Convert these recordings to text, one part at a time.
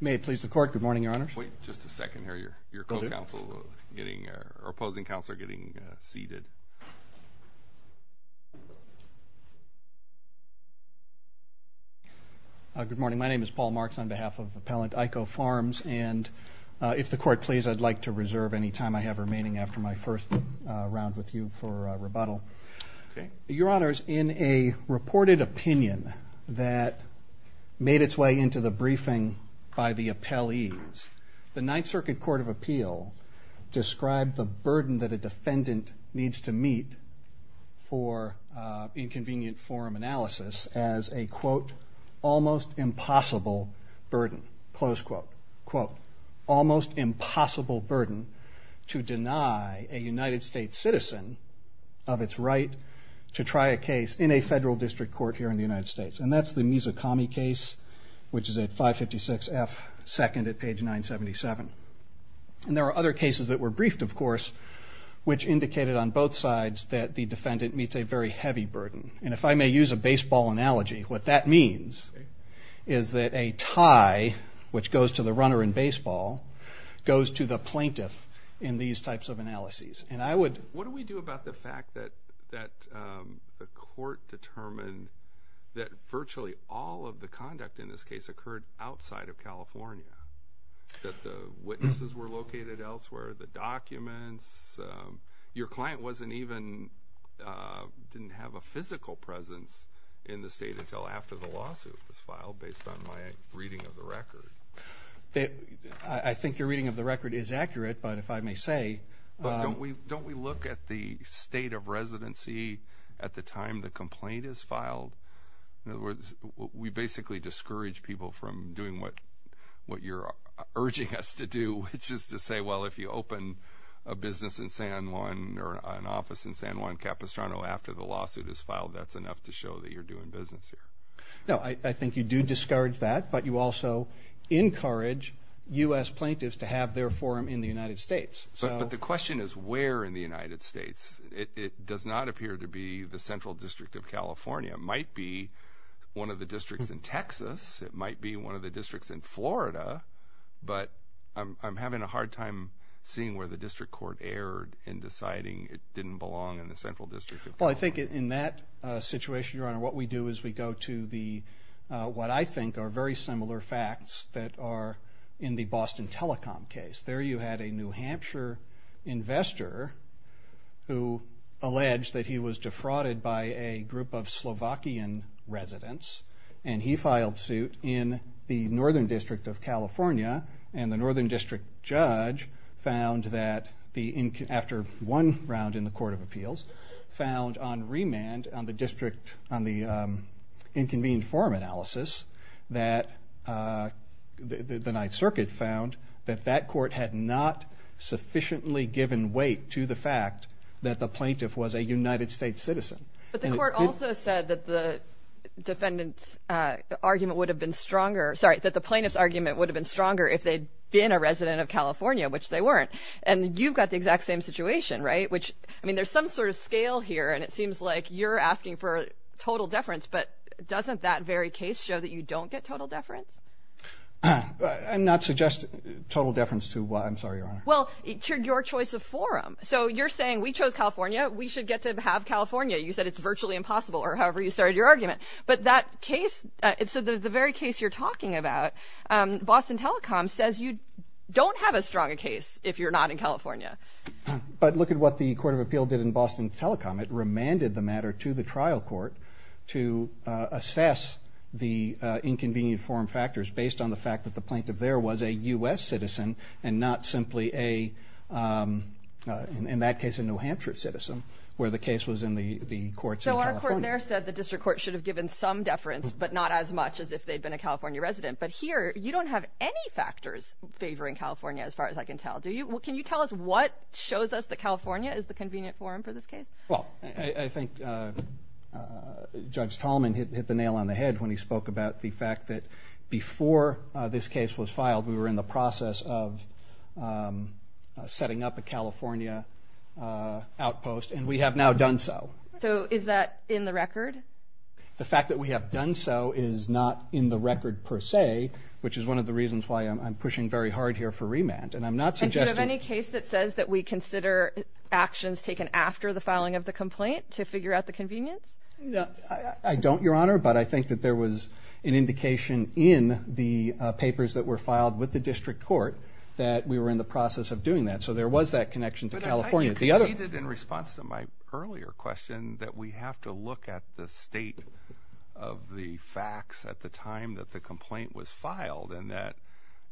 May it please the Court. Good morning, Your Honors. Wait just a second here. Your opposing counsel is getting seated. Good morning. My name is Paul Marks on behalf of Appellant Ico Farms. And if the Court please, I'd like to reserve any time I have remaining after my first round with you for rebuttal. Your Honors, in a reported opinion that made its way into the briefing by the appellees, the Ninth Circuit Court of Appeal described the burden that a defendant needs to meet for inconvenient forum analysis as a, quote, almost impossible burden, close quote, quote, to deny a United States citizen of its right to try a case in a federal district court here in the United States. And that's the Mizukami case, which is at 556 F. 2nd at page 977. And there are other cases that were briefed, of course, which indicated on both sides that the defendant meets a very heavy burden. And if I may use a baseball analogy, what that means is that a tie, which goes to the runner in baseball, goes to the plaintiff in these types of analyses. And I would... What do we do about the fact that the court determined that virtually all of the conduct in this case occurred outside of California? That the witnesses were located elsewhere, the documents? Your client wasn't even... didn't have a physical presence in the state until after the lawsuit was filed, based on my reading of the record. I think your reading of the record is accurate, but if I may say... Don't we look at the state of residency at the time the complaint is filed? In other words, we basically discourage people from doing what you're urging us to do, which is to say, well, if you open a business in San Juan or an office in San Juan Capistrano after the lawsuit is filed, that's enough to show that you're doing business here. No, I think you do discourage that, but you also encourage U.S. plaintiffs to have their forum in the United States. But the question is where in the United States. It does not appear to be the Central District of California. It might be one of the districts in Texas. It might be one of the districts in Florida. But I'm having a hard time seeing where the district court erred in deciding it didn't belong in the Central District of California. Well, I think in that situation, Your Honor, what we do is we go to the, what I think are very similar facts that are in the Boston Telecom case. There you had a New Hampshire investor who alleged that he was defrauded by a group of Slovakian residents, and he filed suit in the Northern District of California, and the Northern District judge found that, after one round in the Court of Appeals, found on remand on the district, on the inconvenient forum analysis, that the Ninth Circuit found that that court had not sufficiently given weight to the fact that the plaintiff was a United States citizen. But the court also said that the defendant's argument would have been stronger, sorry, that the plaintiff's argument would have been stronger if they'd been a resident of California, which they weren't. And you've got the exact same situation, right? Which, I mean, there's some sort of scale here, and it seems like you're asking for total deference, but doesn't that very case show that you don't get total deference? I'm not suggesting total deference to what? I'm sorry, Your Honor. Well, to your choice of forum. So you're saying we chose California, we should get to have California. You said it's virtually impossible, or however you started your argument. But that case, so the very case you're talking about, Boston Telecom says you don't have as strong a case if you're not in California. But look at what the Court of Appeals did in Boston Telecom. It remanded the matter to the trial court to assess the inconvenient forum factors based on the fact that the plaintiff there was a U.S. citizen and not simply a, in that case, a New Hampshire citizen, where the case was in the courts in California. So our court there said the district court should have given some deference, but not as much as if they'd been a California resident. But here, you don't have any factors favoring California, as far as I can tell, do you? Can you tell us what shows us that California is the convenient forum for this case? Well, I think Judge Tallman hit the nail on the head when he spoke about the fact that before this case was filed, we were in the process of setting up a California outpost, and we have now done so. So is that in the record? The fact that we have done so is not in the record per se, which is one of the reasons why I'm pushing very hard here for remand. And I'm not suggesting— And do you have any case that says that we consider actions taken after the filing of the complaint to figure out the convenience? I don't, Your Honor, but I think that there was an indication in the papers that were filed with the district court that we were in the process of doing that. So there was that connection to California. You conceded in response to my earlier question that we have to look at the state of the facts at the time that the complaint was filed and that,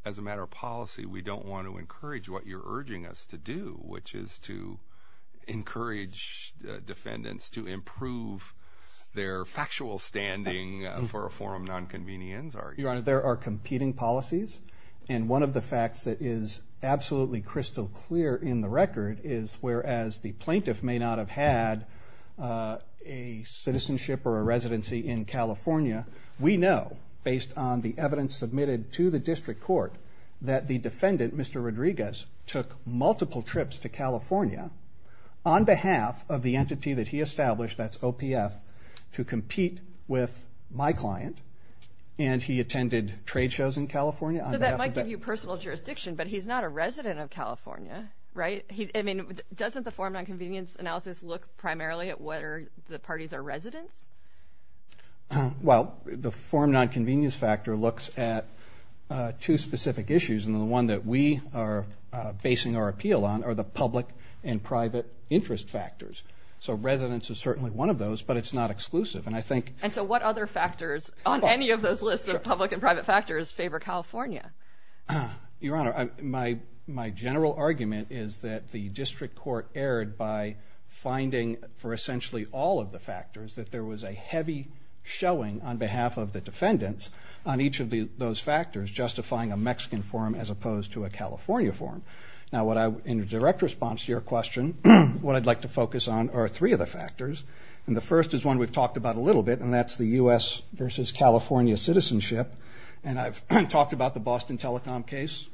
as a matter of policy, we don't want to encourage what you're urging us to do, which is to encourage defendants to improve their factual standing for a forum of nonconvenience. Your Honor, there are competing policies, and one of the facts that is absolutely crystal clear in the record is, whereas the plaintiff may not have had a citizenship or a residency in California, we know, based on the evidence submitted to the district court, that the defendant, Mr. Rodriguez, took multiple trips to California on behalf of the entity that he established, that's OPF, to compete with my client, and he attended trade shows in California. So that might give you personal jurisdiction, but he's not a resident of California, right? I mean, doesn't the forum of nonconvenience analysis look primarily at whether the parties are residents? Well, the forum of nonconvenience factor looks at two specific issues, and the one that we are basing our appeal on are the public and private interest factors. So residence is certainly one of those, but it's not exclusive. And so what other factors on any of those lists of public and private factors favor California? Your Honor, my general argument is that the district court erred by finding, for essentially all of the factors, that there was a heavy showing on behalf of the defendants on each of those factors justifying a Mexican forum as opposed to a California forum. Now, in direct response to your question, what I'd like to focus on are three of the factors, and the first is one we've talked about a little bit, and that's the U.S. versus California citizenship. And I've talked about the Boston Telecom case.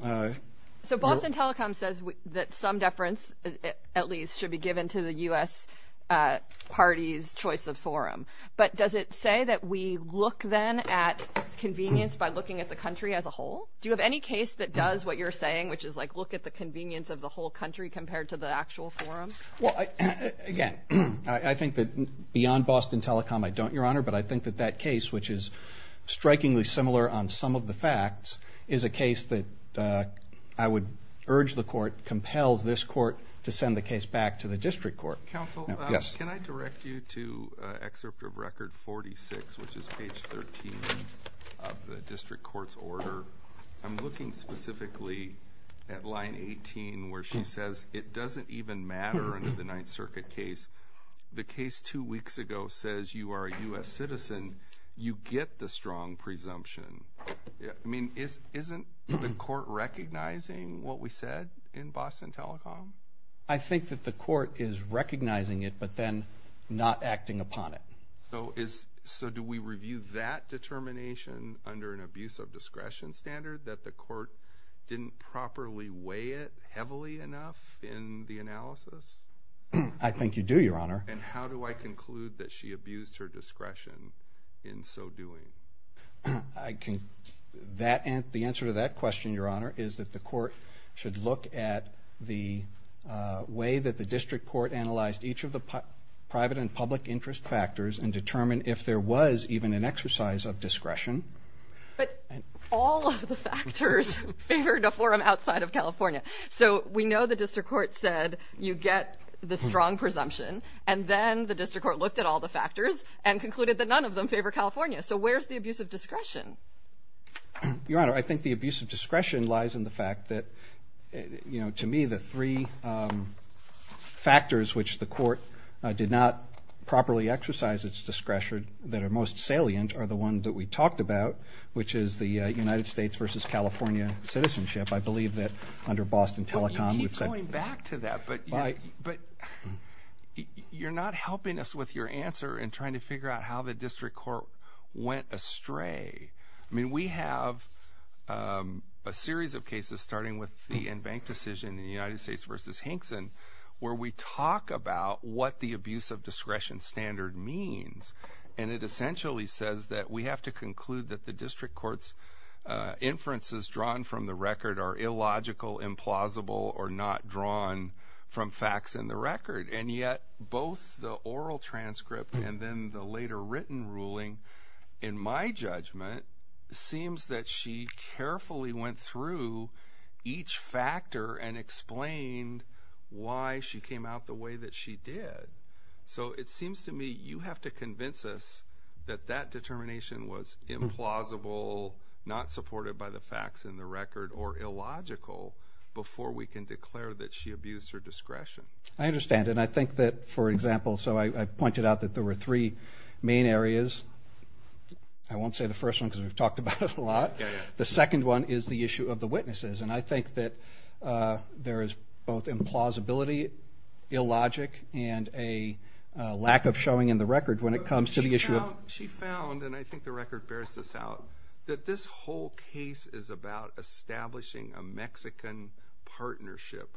So Boston Telecom says that some deference, at least, should be given to the U.S. party's choice of forum. But does it say that we look then at convenience by looking at the country as a whole? Do you have any case that does what you're saying, which is like look at the convenience of the whole country compared to the actual forum? Well, again, I think that beyond Boston Telecom, I don't, Your Honor, but I think that that case, which is strikingly similar on some of the facts, is a case that I would urge the court, compel this court to send the case back to the district court. Counsel, can I direct you to excerpt of Record 46, which is page 13 of the district court's order? I'm looking specifically at line 18 where she says it doesn't even matter under the Ninth Circuit case. The case two weeks ago says you are a U.S. citizen. You get the strong presumption. I mean, isn't the court recognizing what we said in Boston Telecom? I think that the court is recognizing it but then not acting upon it. So do we review that determination under an abuse of discretion standard that the court didn't properly weigh it heavily enough in the analysis? I think you do, Your Honor. And how do I conclude that she abused her discretion in so doing? The answer to that question, Your Honor, is that the court should look at the way that the district court analyzed each of the private and public interest factors and determine if there was even an exercise of discretion. But all of the factors favored a forum outside of California. So we know the district court said you get the strong presumption, and then the district court looked at all the factors and concluded that none of them favor California. So where's the abuse of discretion? Your Honor, I think the abuse of discretion lies in the fact that, you know, to me the three factors which the court did not properly exercise its discretion that are most salient are the one that we talked about, which is the United States versus California citizenship. I believe that under Boston Telecom. You keep going back to that, but you're not helping us with your answer in trying to figure out how the district court went astray. I mean, we have a series of cases starting with the in-bank decision in the United States versus Hinkson where we talk about what the abuse of discretion standard means. And it essentially says that we have to conclude that the district court's inferences drawn from the record are illogical, implausible, or not drawn from facts in the record. And yet both the oral transcript and then the later written ruling, in my judgment, seems that she carefully went through each factor and explained why she came out the way that she did. So it seems to me you have to convince us that that determination was implausible, not supported by the facts in the record, or illogical before we can declare that she abused her discretion. I understand, and I think that, for example, so I pointed out that there were three main areas. I won't say the first one because we've talked about it a lot. The second one is the issue of the witnesses, and I think that there is both implausibility, illogic, and a lack of showing in the record when it comes to the issue of the witnesses. She found, and I think the record bears this out, that this whole case is about establishing a Mexican partnership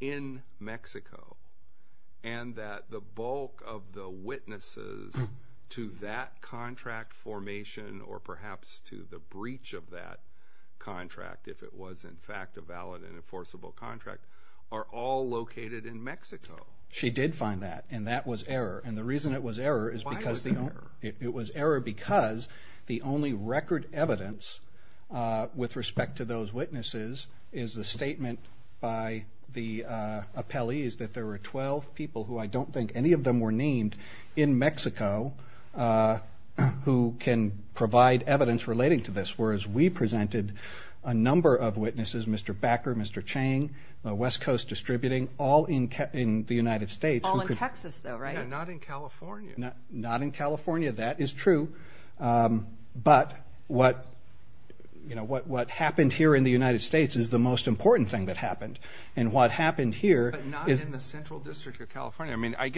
in Mexico and that the bulk of the witnesses to that contract formation or perhaps to the breach of that contract, if it was in fact a valid and enforceable contract, are all located in Mexico. She did find that, and that was error. And the reason it was error is because the only record evidence with respect to those witnesses is the statement by the appellees that there were 12 people who I don't think any of them were named in Mexico who can provide evidence relating to this, whereas we presented a number of witnesses, Mr. Backer, Mr. Chang, West Coast Distributing, all in the United States. All in Texas, though, right? Yeah, not in California. Not in California. That is true. But what happened here in the United States is the most important thing that happened, and what happened here is- But not in the Central District of California. I mean, I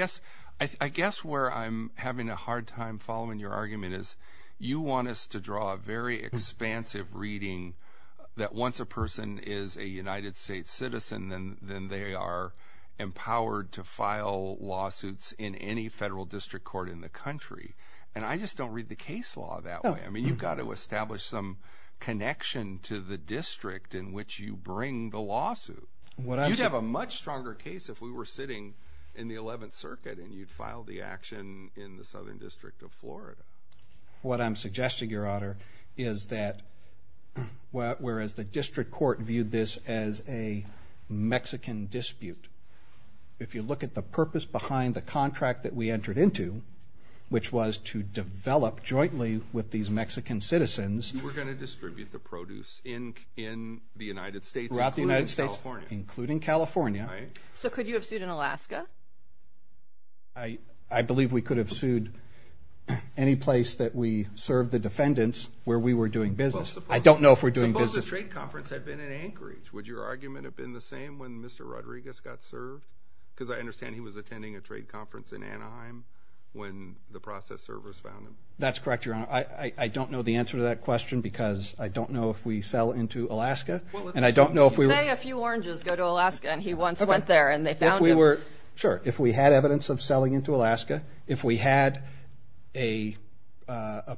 guess where I'm having a hard time following your argument is you want us to draw a very expansive reading that once a person is a United States citizen, then they are empowered to file lawsuits in any federal district court in the country. And I just don't read the case law that way. I mean, you've got to establish some connection to the district in which you bring the lawsuit. You'd have a much stronger case if we were sitting in the 11th Circuit and you'd file the action in the Southern District of Florida. What I'm suggesting, Your Honor, is that whereas the district court viewed this as a Mexican dispute, if you look at the purpose behind the contract that we entered into, which was to develop jointly with these Mexican citizens- You were going to distribute the produce in the United States- Throughout the United States. Including California. Including California. Right. So could you have sued in Alaska? I believe we could have sued any place that we served the defendants where we were doing business. I don't know if we're doing business- Suppose the trade conference had been in Anchorage. Would your argument have been the same when Mr. Rodriguez got served? Because I understand he was attending a trade conference in Anaheim when the process servers found him. That's correct, Your Honor. I don't know the answer to that question because I don't know if we sell into Alaska. And I don't know if we were- You pay a few oranges, go to Alaska, and he once went there and they found him. Sure. If we had evidence of selling into Alaska, if we had a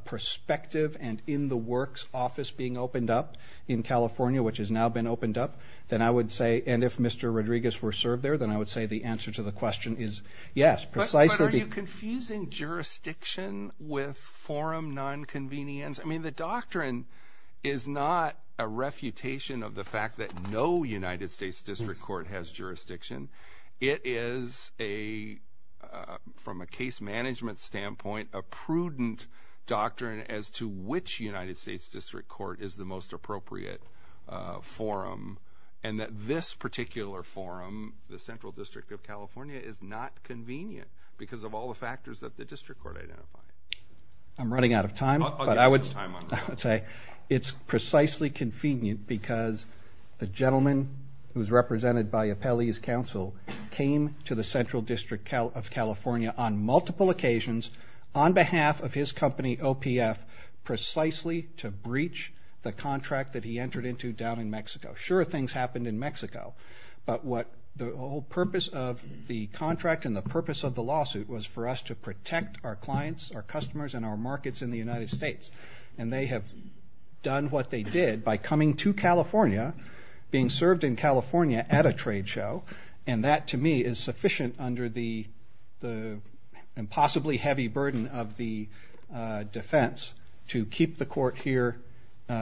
prospective and in-the-works office being opened up in California, which has now been opened up, then I would say, and if Mr. Rodriguez were served there, then I would say the answer to the question is yes. Precisely because- But are you confusing jurisdiction with forum nonconvenience? I mean, the doctrine is not a refutation of the fact that no United States District Court has jurisdiction. It is, from a case management standpoint, a prudent doctrine as to which United States District Court is the most appropriate forum, and that this particular forum, the Central District of California, is not convenient because of all the factors that the District Court identified. I'm running out of time. I'll give you some time on that. I would say it's precisely convenient because the gentleman who is represented by Appellee's Counsel came to the Central District of California on multiple occasions on behalf of his company, OPF, precisely to breach the contract that he entered into down in Mexico. Sure, things happened in Mexico, but the whole purpose of the contract and the purpose of the lawsuit was for us to protect our clients, our customers, and our markets in the United States, and they have done what they did by coming to California, being served in California at a trade show, and that to me is sufficient under the impossibly heavy burden of the defense to keep the court here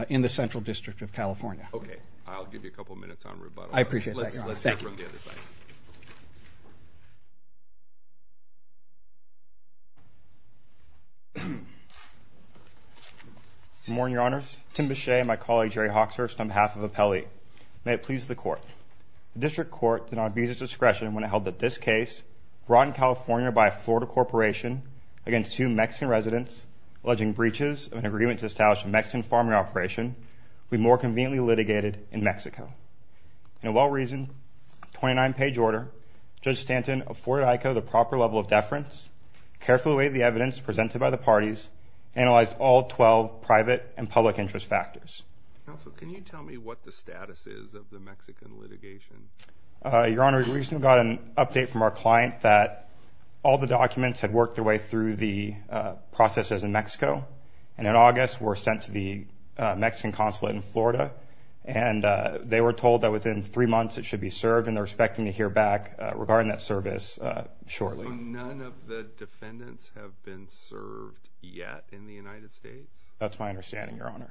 in the Central District of California. Okay. I'll give you a couple minutes on rebuttal. I appreciate that, Your Honor. Good morning, Your Honors. Tim Bechet and my colleague, Jerry Hawkshurst, on behalf of Appellee. May it please the Court. The District Court did not abuse its discretion when it held that this case brought in California by a Florida corporation against two Mexican residents alleging breaches of an agreement to establish a Mexican farming operation would be more conveniently litigated in Mexico. In a well-reasoned 29-page order, Judge Stanton afforded IKO the proper level of deference, carefully weighed the evidence presented by the parties, analyzed all 12 private and public interest factors. Counsel, can you tell me what the status is of the Mexican litigation? Your Honor, we just got an update from our client that all the documents had worked their way through the processes in Mexico, and in August were sent to the Mexican consulate in Florida, and they were told that within three months it should be served, and they're expecting to hear back regarding that service shortly. So none of the defendants have been served yet in the United States? That's my understanding, Your Honor.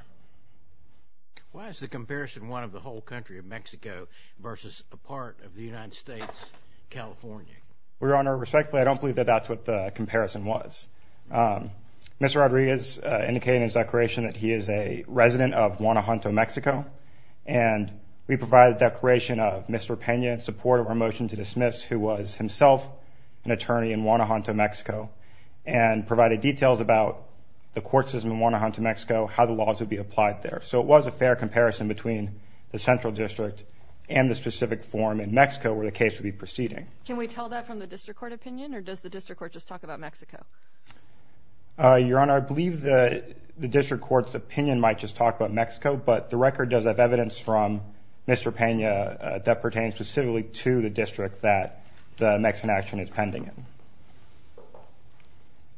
Why is the comparison one of the whole country of Mexico versus a part of the United States, California? Your Honor, respectfully, I don't believe that that's what the comparison was. Mr. Rodriguez indicated in his declaration that he is a resident of Guanajuato, Mexico, and we provided a declaration of misrepentant support of our motion to dismiss, who was himself an attorney in Guanajuato, Mexico, and provided details about the courts in Guanajuato, Mexico, how the laws would be applied there. So it was a fair comparison between the central district and the specific forum in Mexico where the case would be proceeding. Can we tell that from the district court opinion, or does the district court just talk about Mexico? Your Honor, I believe the district court's opinion might just talk about Mexico, but the record does have evidence from Mr. Pena that pertains specifically to the district that the Mexican action is pending in.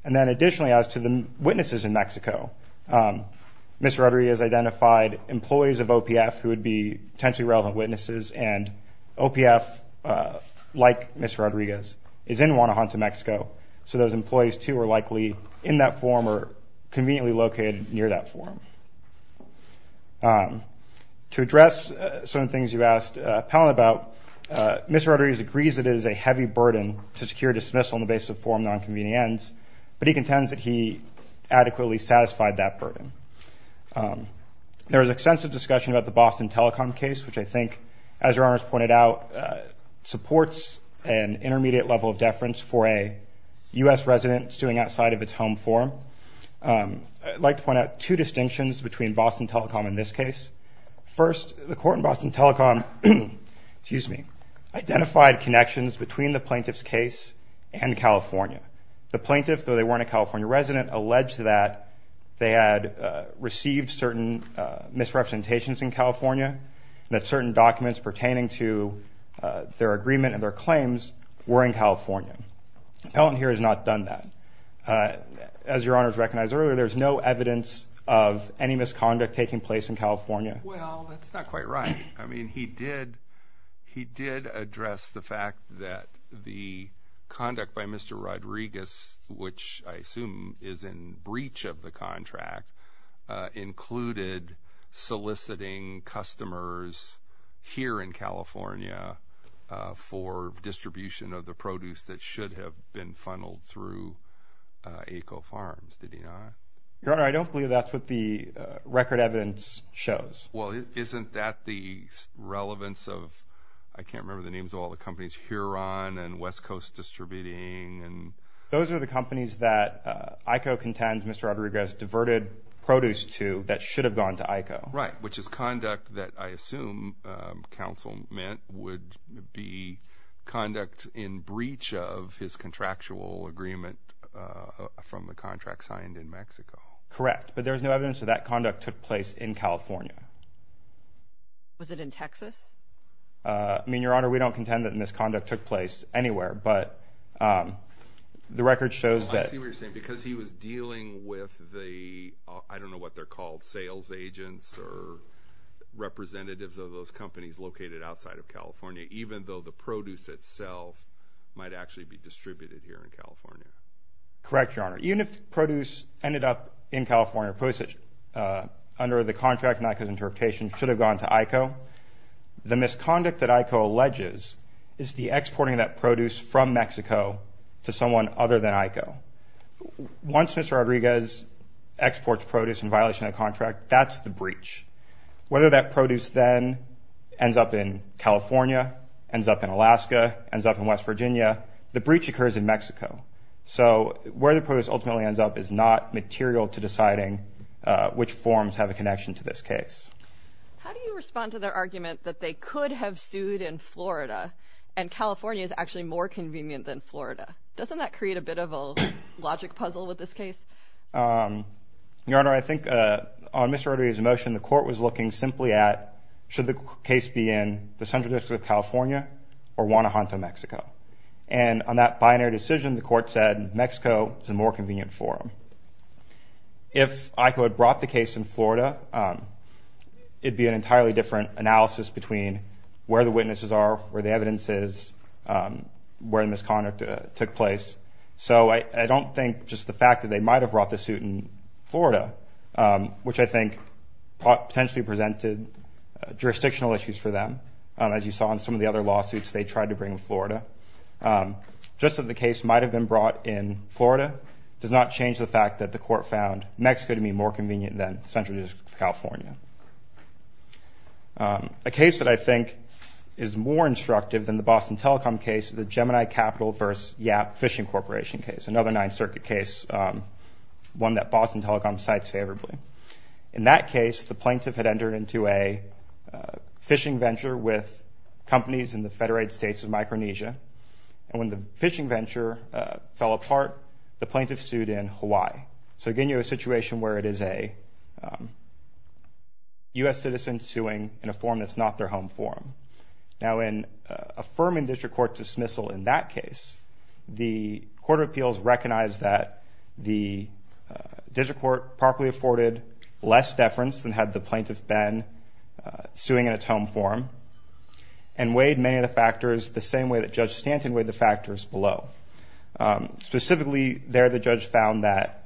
And then additionally, as to the witnesses in Mexico, Mr. Rodriguez identified employees of OPF who would be potentially relevant witnesses, and OPF, like Mr. Rodriguez, is in Guanajuato, Mexico, so those employees, too, are likely in that forum or conveniently located near that forum. To address some of the things you asked Palin about, Mr. Rodriguez agrees that it is a heavy burden to secure dismissal on the basis of forum non-convenient ends, but he contends that he adequately satisfied that burden. There was extensive discussion about the Boston Telecom case, which I think, as Your Honor has pointed out, supports an intermediate level of deference for a U.S. resident suing outside of its home forum. I'd like to point out two distinctions between Boston Telecom and this case. First, the court in Boston Telecom identified connections between the plaintiff's case and California. The plaintiff, though they weren't a California resident, alleged that they had received certain misrepresentations in California, that certain documents pertaining to their agreement and their claims were in California. Palin here has not done that. As Your Honor has recognized earlier, there's no evidence of any misconduct taking place in California. Well, that's not quite right. I mean, he did address the fact that the conduct by Mr. Rodriguez, which I assume is in breach of the contract, included soliciting customers here in California for distribution of the produce that should have been funneled through AECO Farms, did he not? Your Honor, I don't believe that's what the record evidence shows. Well, isn't that the relevance of, I can't remember the names of all the companies, just Huron and West Coast Distributing? Those are the companies that AECO contends Mr. Rodriguez diverted produce to that should have gone to AECO. Right, which is conduct that I assume counsel meant would be conduct in breach of his contractual agreement from the contract signed in Mexico. Correct, but there's no evidence that that conduct took place in California. Was it in Texas? I mean, Your Honor, we don't contend that misconduct took place anywhere, but the record shows that. I see what you're saying, because he was dealing with the, I don't know what they're called, sales agents or representatives of those companies located outside of California, even though the produce itself might actually be distributed here in California. Correct, Your Honor. Even if produce ended up in California, under the contract and AECO's interpretation, should have gone to AECO, the misconduct that AECO alleges is the exporting of that produce from Mexico to someone other than AECO. Once Mr. Rodriguez exports produce in violation of the contract, that's the breach. Whether that produce then ends up in California, ends up in Alaska, ends up in West Virginia, the breach occurs in Mexico. So where the produce ultimately ends up is not material to deciding which forms have a connection to this case. How do you respond to their argument that they could have sued in Florida and California is actually more convenient than Florida? Doesn't that create a bit of a logic puzzle with this case? Your Honor, I think on Mr. Rodriguez's motion, the court was looking simply at, should the case be in the Central District of California or Guanajuato, Mexico? And on that binary decision, the court said Mexico is a more convenient forum. If AECO had brought the case in Florida, it would be an entirely different analysis between where the witnesses are, where the evidence is, where the misconduct took place. So I don't think just the fact that they might have brought the suit in Florida, which I think potentially presented jurisdictional issues for them, as you saw in some of the other lawsuits they tried to bring in Florida, just that the case might have been brought in Florida does not change the fact that the court found Mexico to be more convenient than Central District of California. A case that I think is more instructive than the Boston Telecom case is the Gemini Capital v. Yap Fishing Corporation case, another Ninth Circuit case, one that Boston Telecom cites favorably. In that case, the plaintiff had entered into a fishing venture with companies in the Federated States of Micronesia. And when the fishing venture fell apart, the plaintiff sued in Hawaii. So again, you have a situation where it is a U.S. citizen suing in a forum that's not their home forum. Now, in affirming district court dismissal in that case, the court of appeals recognized that the district court properly afforded less deference than had the plaintiff been suing in its home forum and weighed many of the factors the same way that Judge Stanton weighed the factors below. Specifically there, the judge found that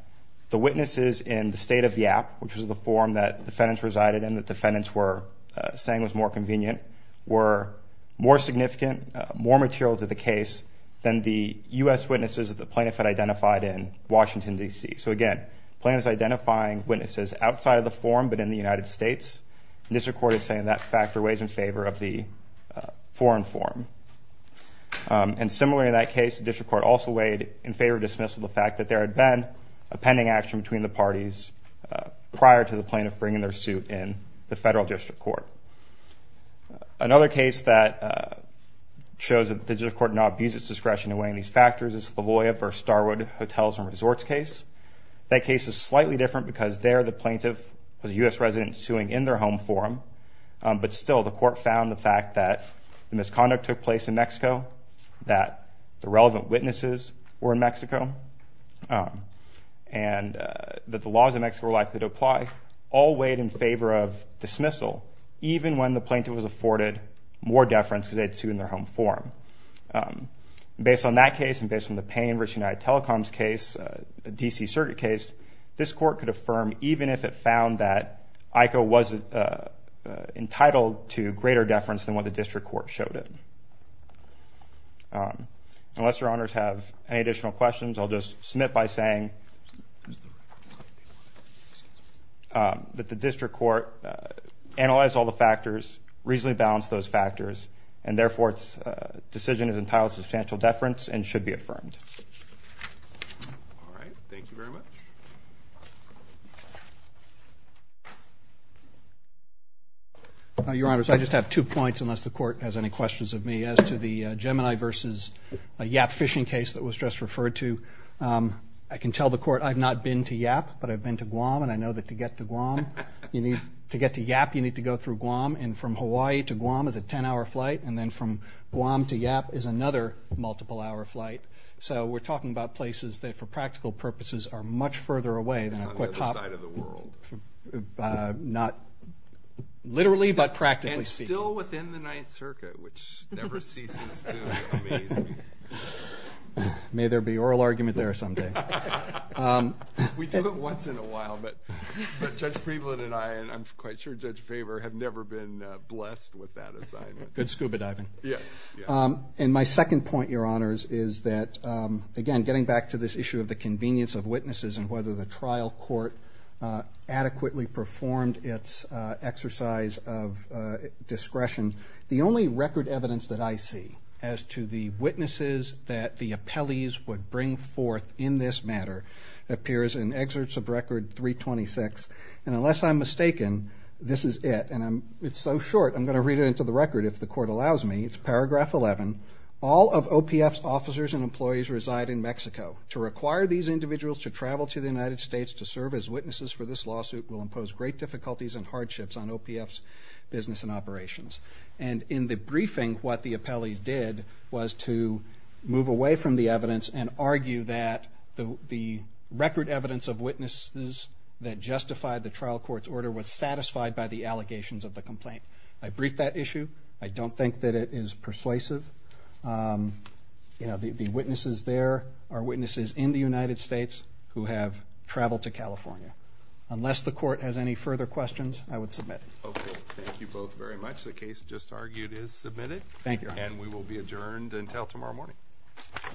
the witnesses in the state of Yap, which was the forum that defendants resided in that defendants were saying was more convenient, were more significant, more material to the case, than the U.S. witnesses that the plaintiff had identified in Washington, D.C. So again, plaintiffs identifying witnesses outside of the forum but in the United States. District court is saying that factor weighs in favor of the foreign forum. And similarly in that case, the district court also weighed in favor of dismissal the fact that there had been a pending action between the parties prior to the plaintiff bringing their suit in the federal district court. Another case that shows that the district court did not abuse its discretion in weighing these factors is La Jolla v. Starwood Hotels and Resorts case. That case is slightly different because there the plaintiff was a U.S. resident suing in their home forum, but still the court found the fact that the misconduct took place in Mexico, that the relevant witnesses were in Mexico, and that the laws in Mexico were likely to apply, all weighed in favor of dismissal even when the plaintiff was afforded more deference because they had sued in their home forum. Based on that case and based on the Payne v. United Telecoms case, a D.C. circuit case, this court could affirm even if it found that IKO was entitled to greater deference than what the district court showed it. Unless your honors have any additional questions, I'll just submit by saying that the district court analyzed all the factors, reasonably balanced those factors, and therefore its decision is entitled to substantial deference and should be affirmed. All right. Thank you very much. Your honors, I just have two points unless the court has any questions of me. As to the Gemini v. Yap fishing case that was just referred to, I can tell the court I've not been to Yap, but I've been to Guam, and I know that to get to Guam you need to get to Yap you need to go through Guam, and from Hawaii to Guam is a 10-hour flight, and then from Guam to Yap is another multiple-hour flight. So we're talking about places that for practical purposes are much further away than a quick hop. It's on the other side of the world. Not literally, but practically speaking. And still within the Ninth Circuit, which never ceases to amaze me. May there be oral argument there someday. We do it once in a while, but Judge Friedland and I, and I'm quite sure Judge Faber, have never been blessed with that assignment. Good scuba diving. Yes. And my second point, Your Honors, is that, again, getting back to this issue of the convenience of witnesses and whether the trial court adequately performed its exercise of discretion, the only record evidence that I see as to the witnesses that the appellees would bring forth in this matter appears in Excerpts of Record 326, and unless I'm mistaken, this is it. And it's so short, I'm going to read it into the record if the court allows me. It's Paragraph 11. All of OPF's officers and employees reside in Mexico. To require these individuals to travel to the United States to serve as witnesses for this lawsuit will impose great difficulties and hardships on OPF's business and operations. And in the briefing, what the appellees did was to move away from the evidence and argue that the record evidence of witnesses that justified the trial court's order was satisfied by the allegations of the complaint. I briefed that issue. I don't think that it is persuasive. The witnesses there are witnesses in the United States who have traveled to California. Unless the court has any further questions, I would submit. Okay. Thank you both very much. The case just argued is submitted. Thank you, Your Honor. And we will be adjourned until tomorrow morning.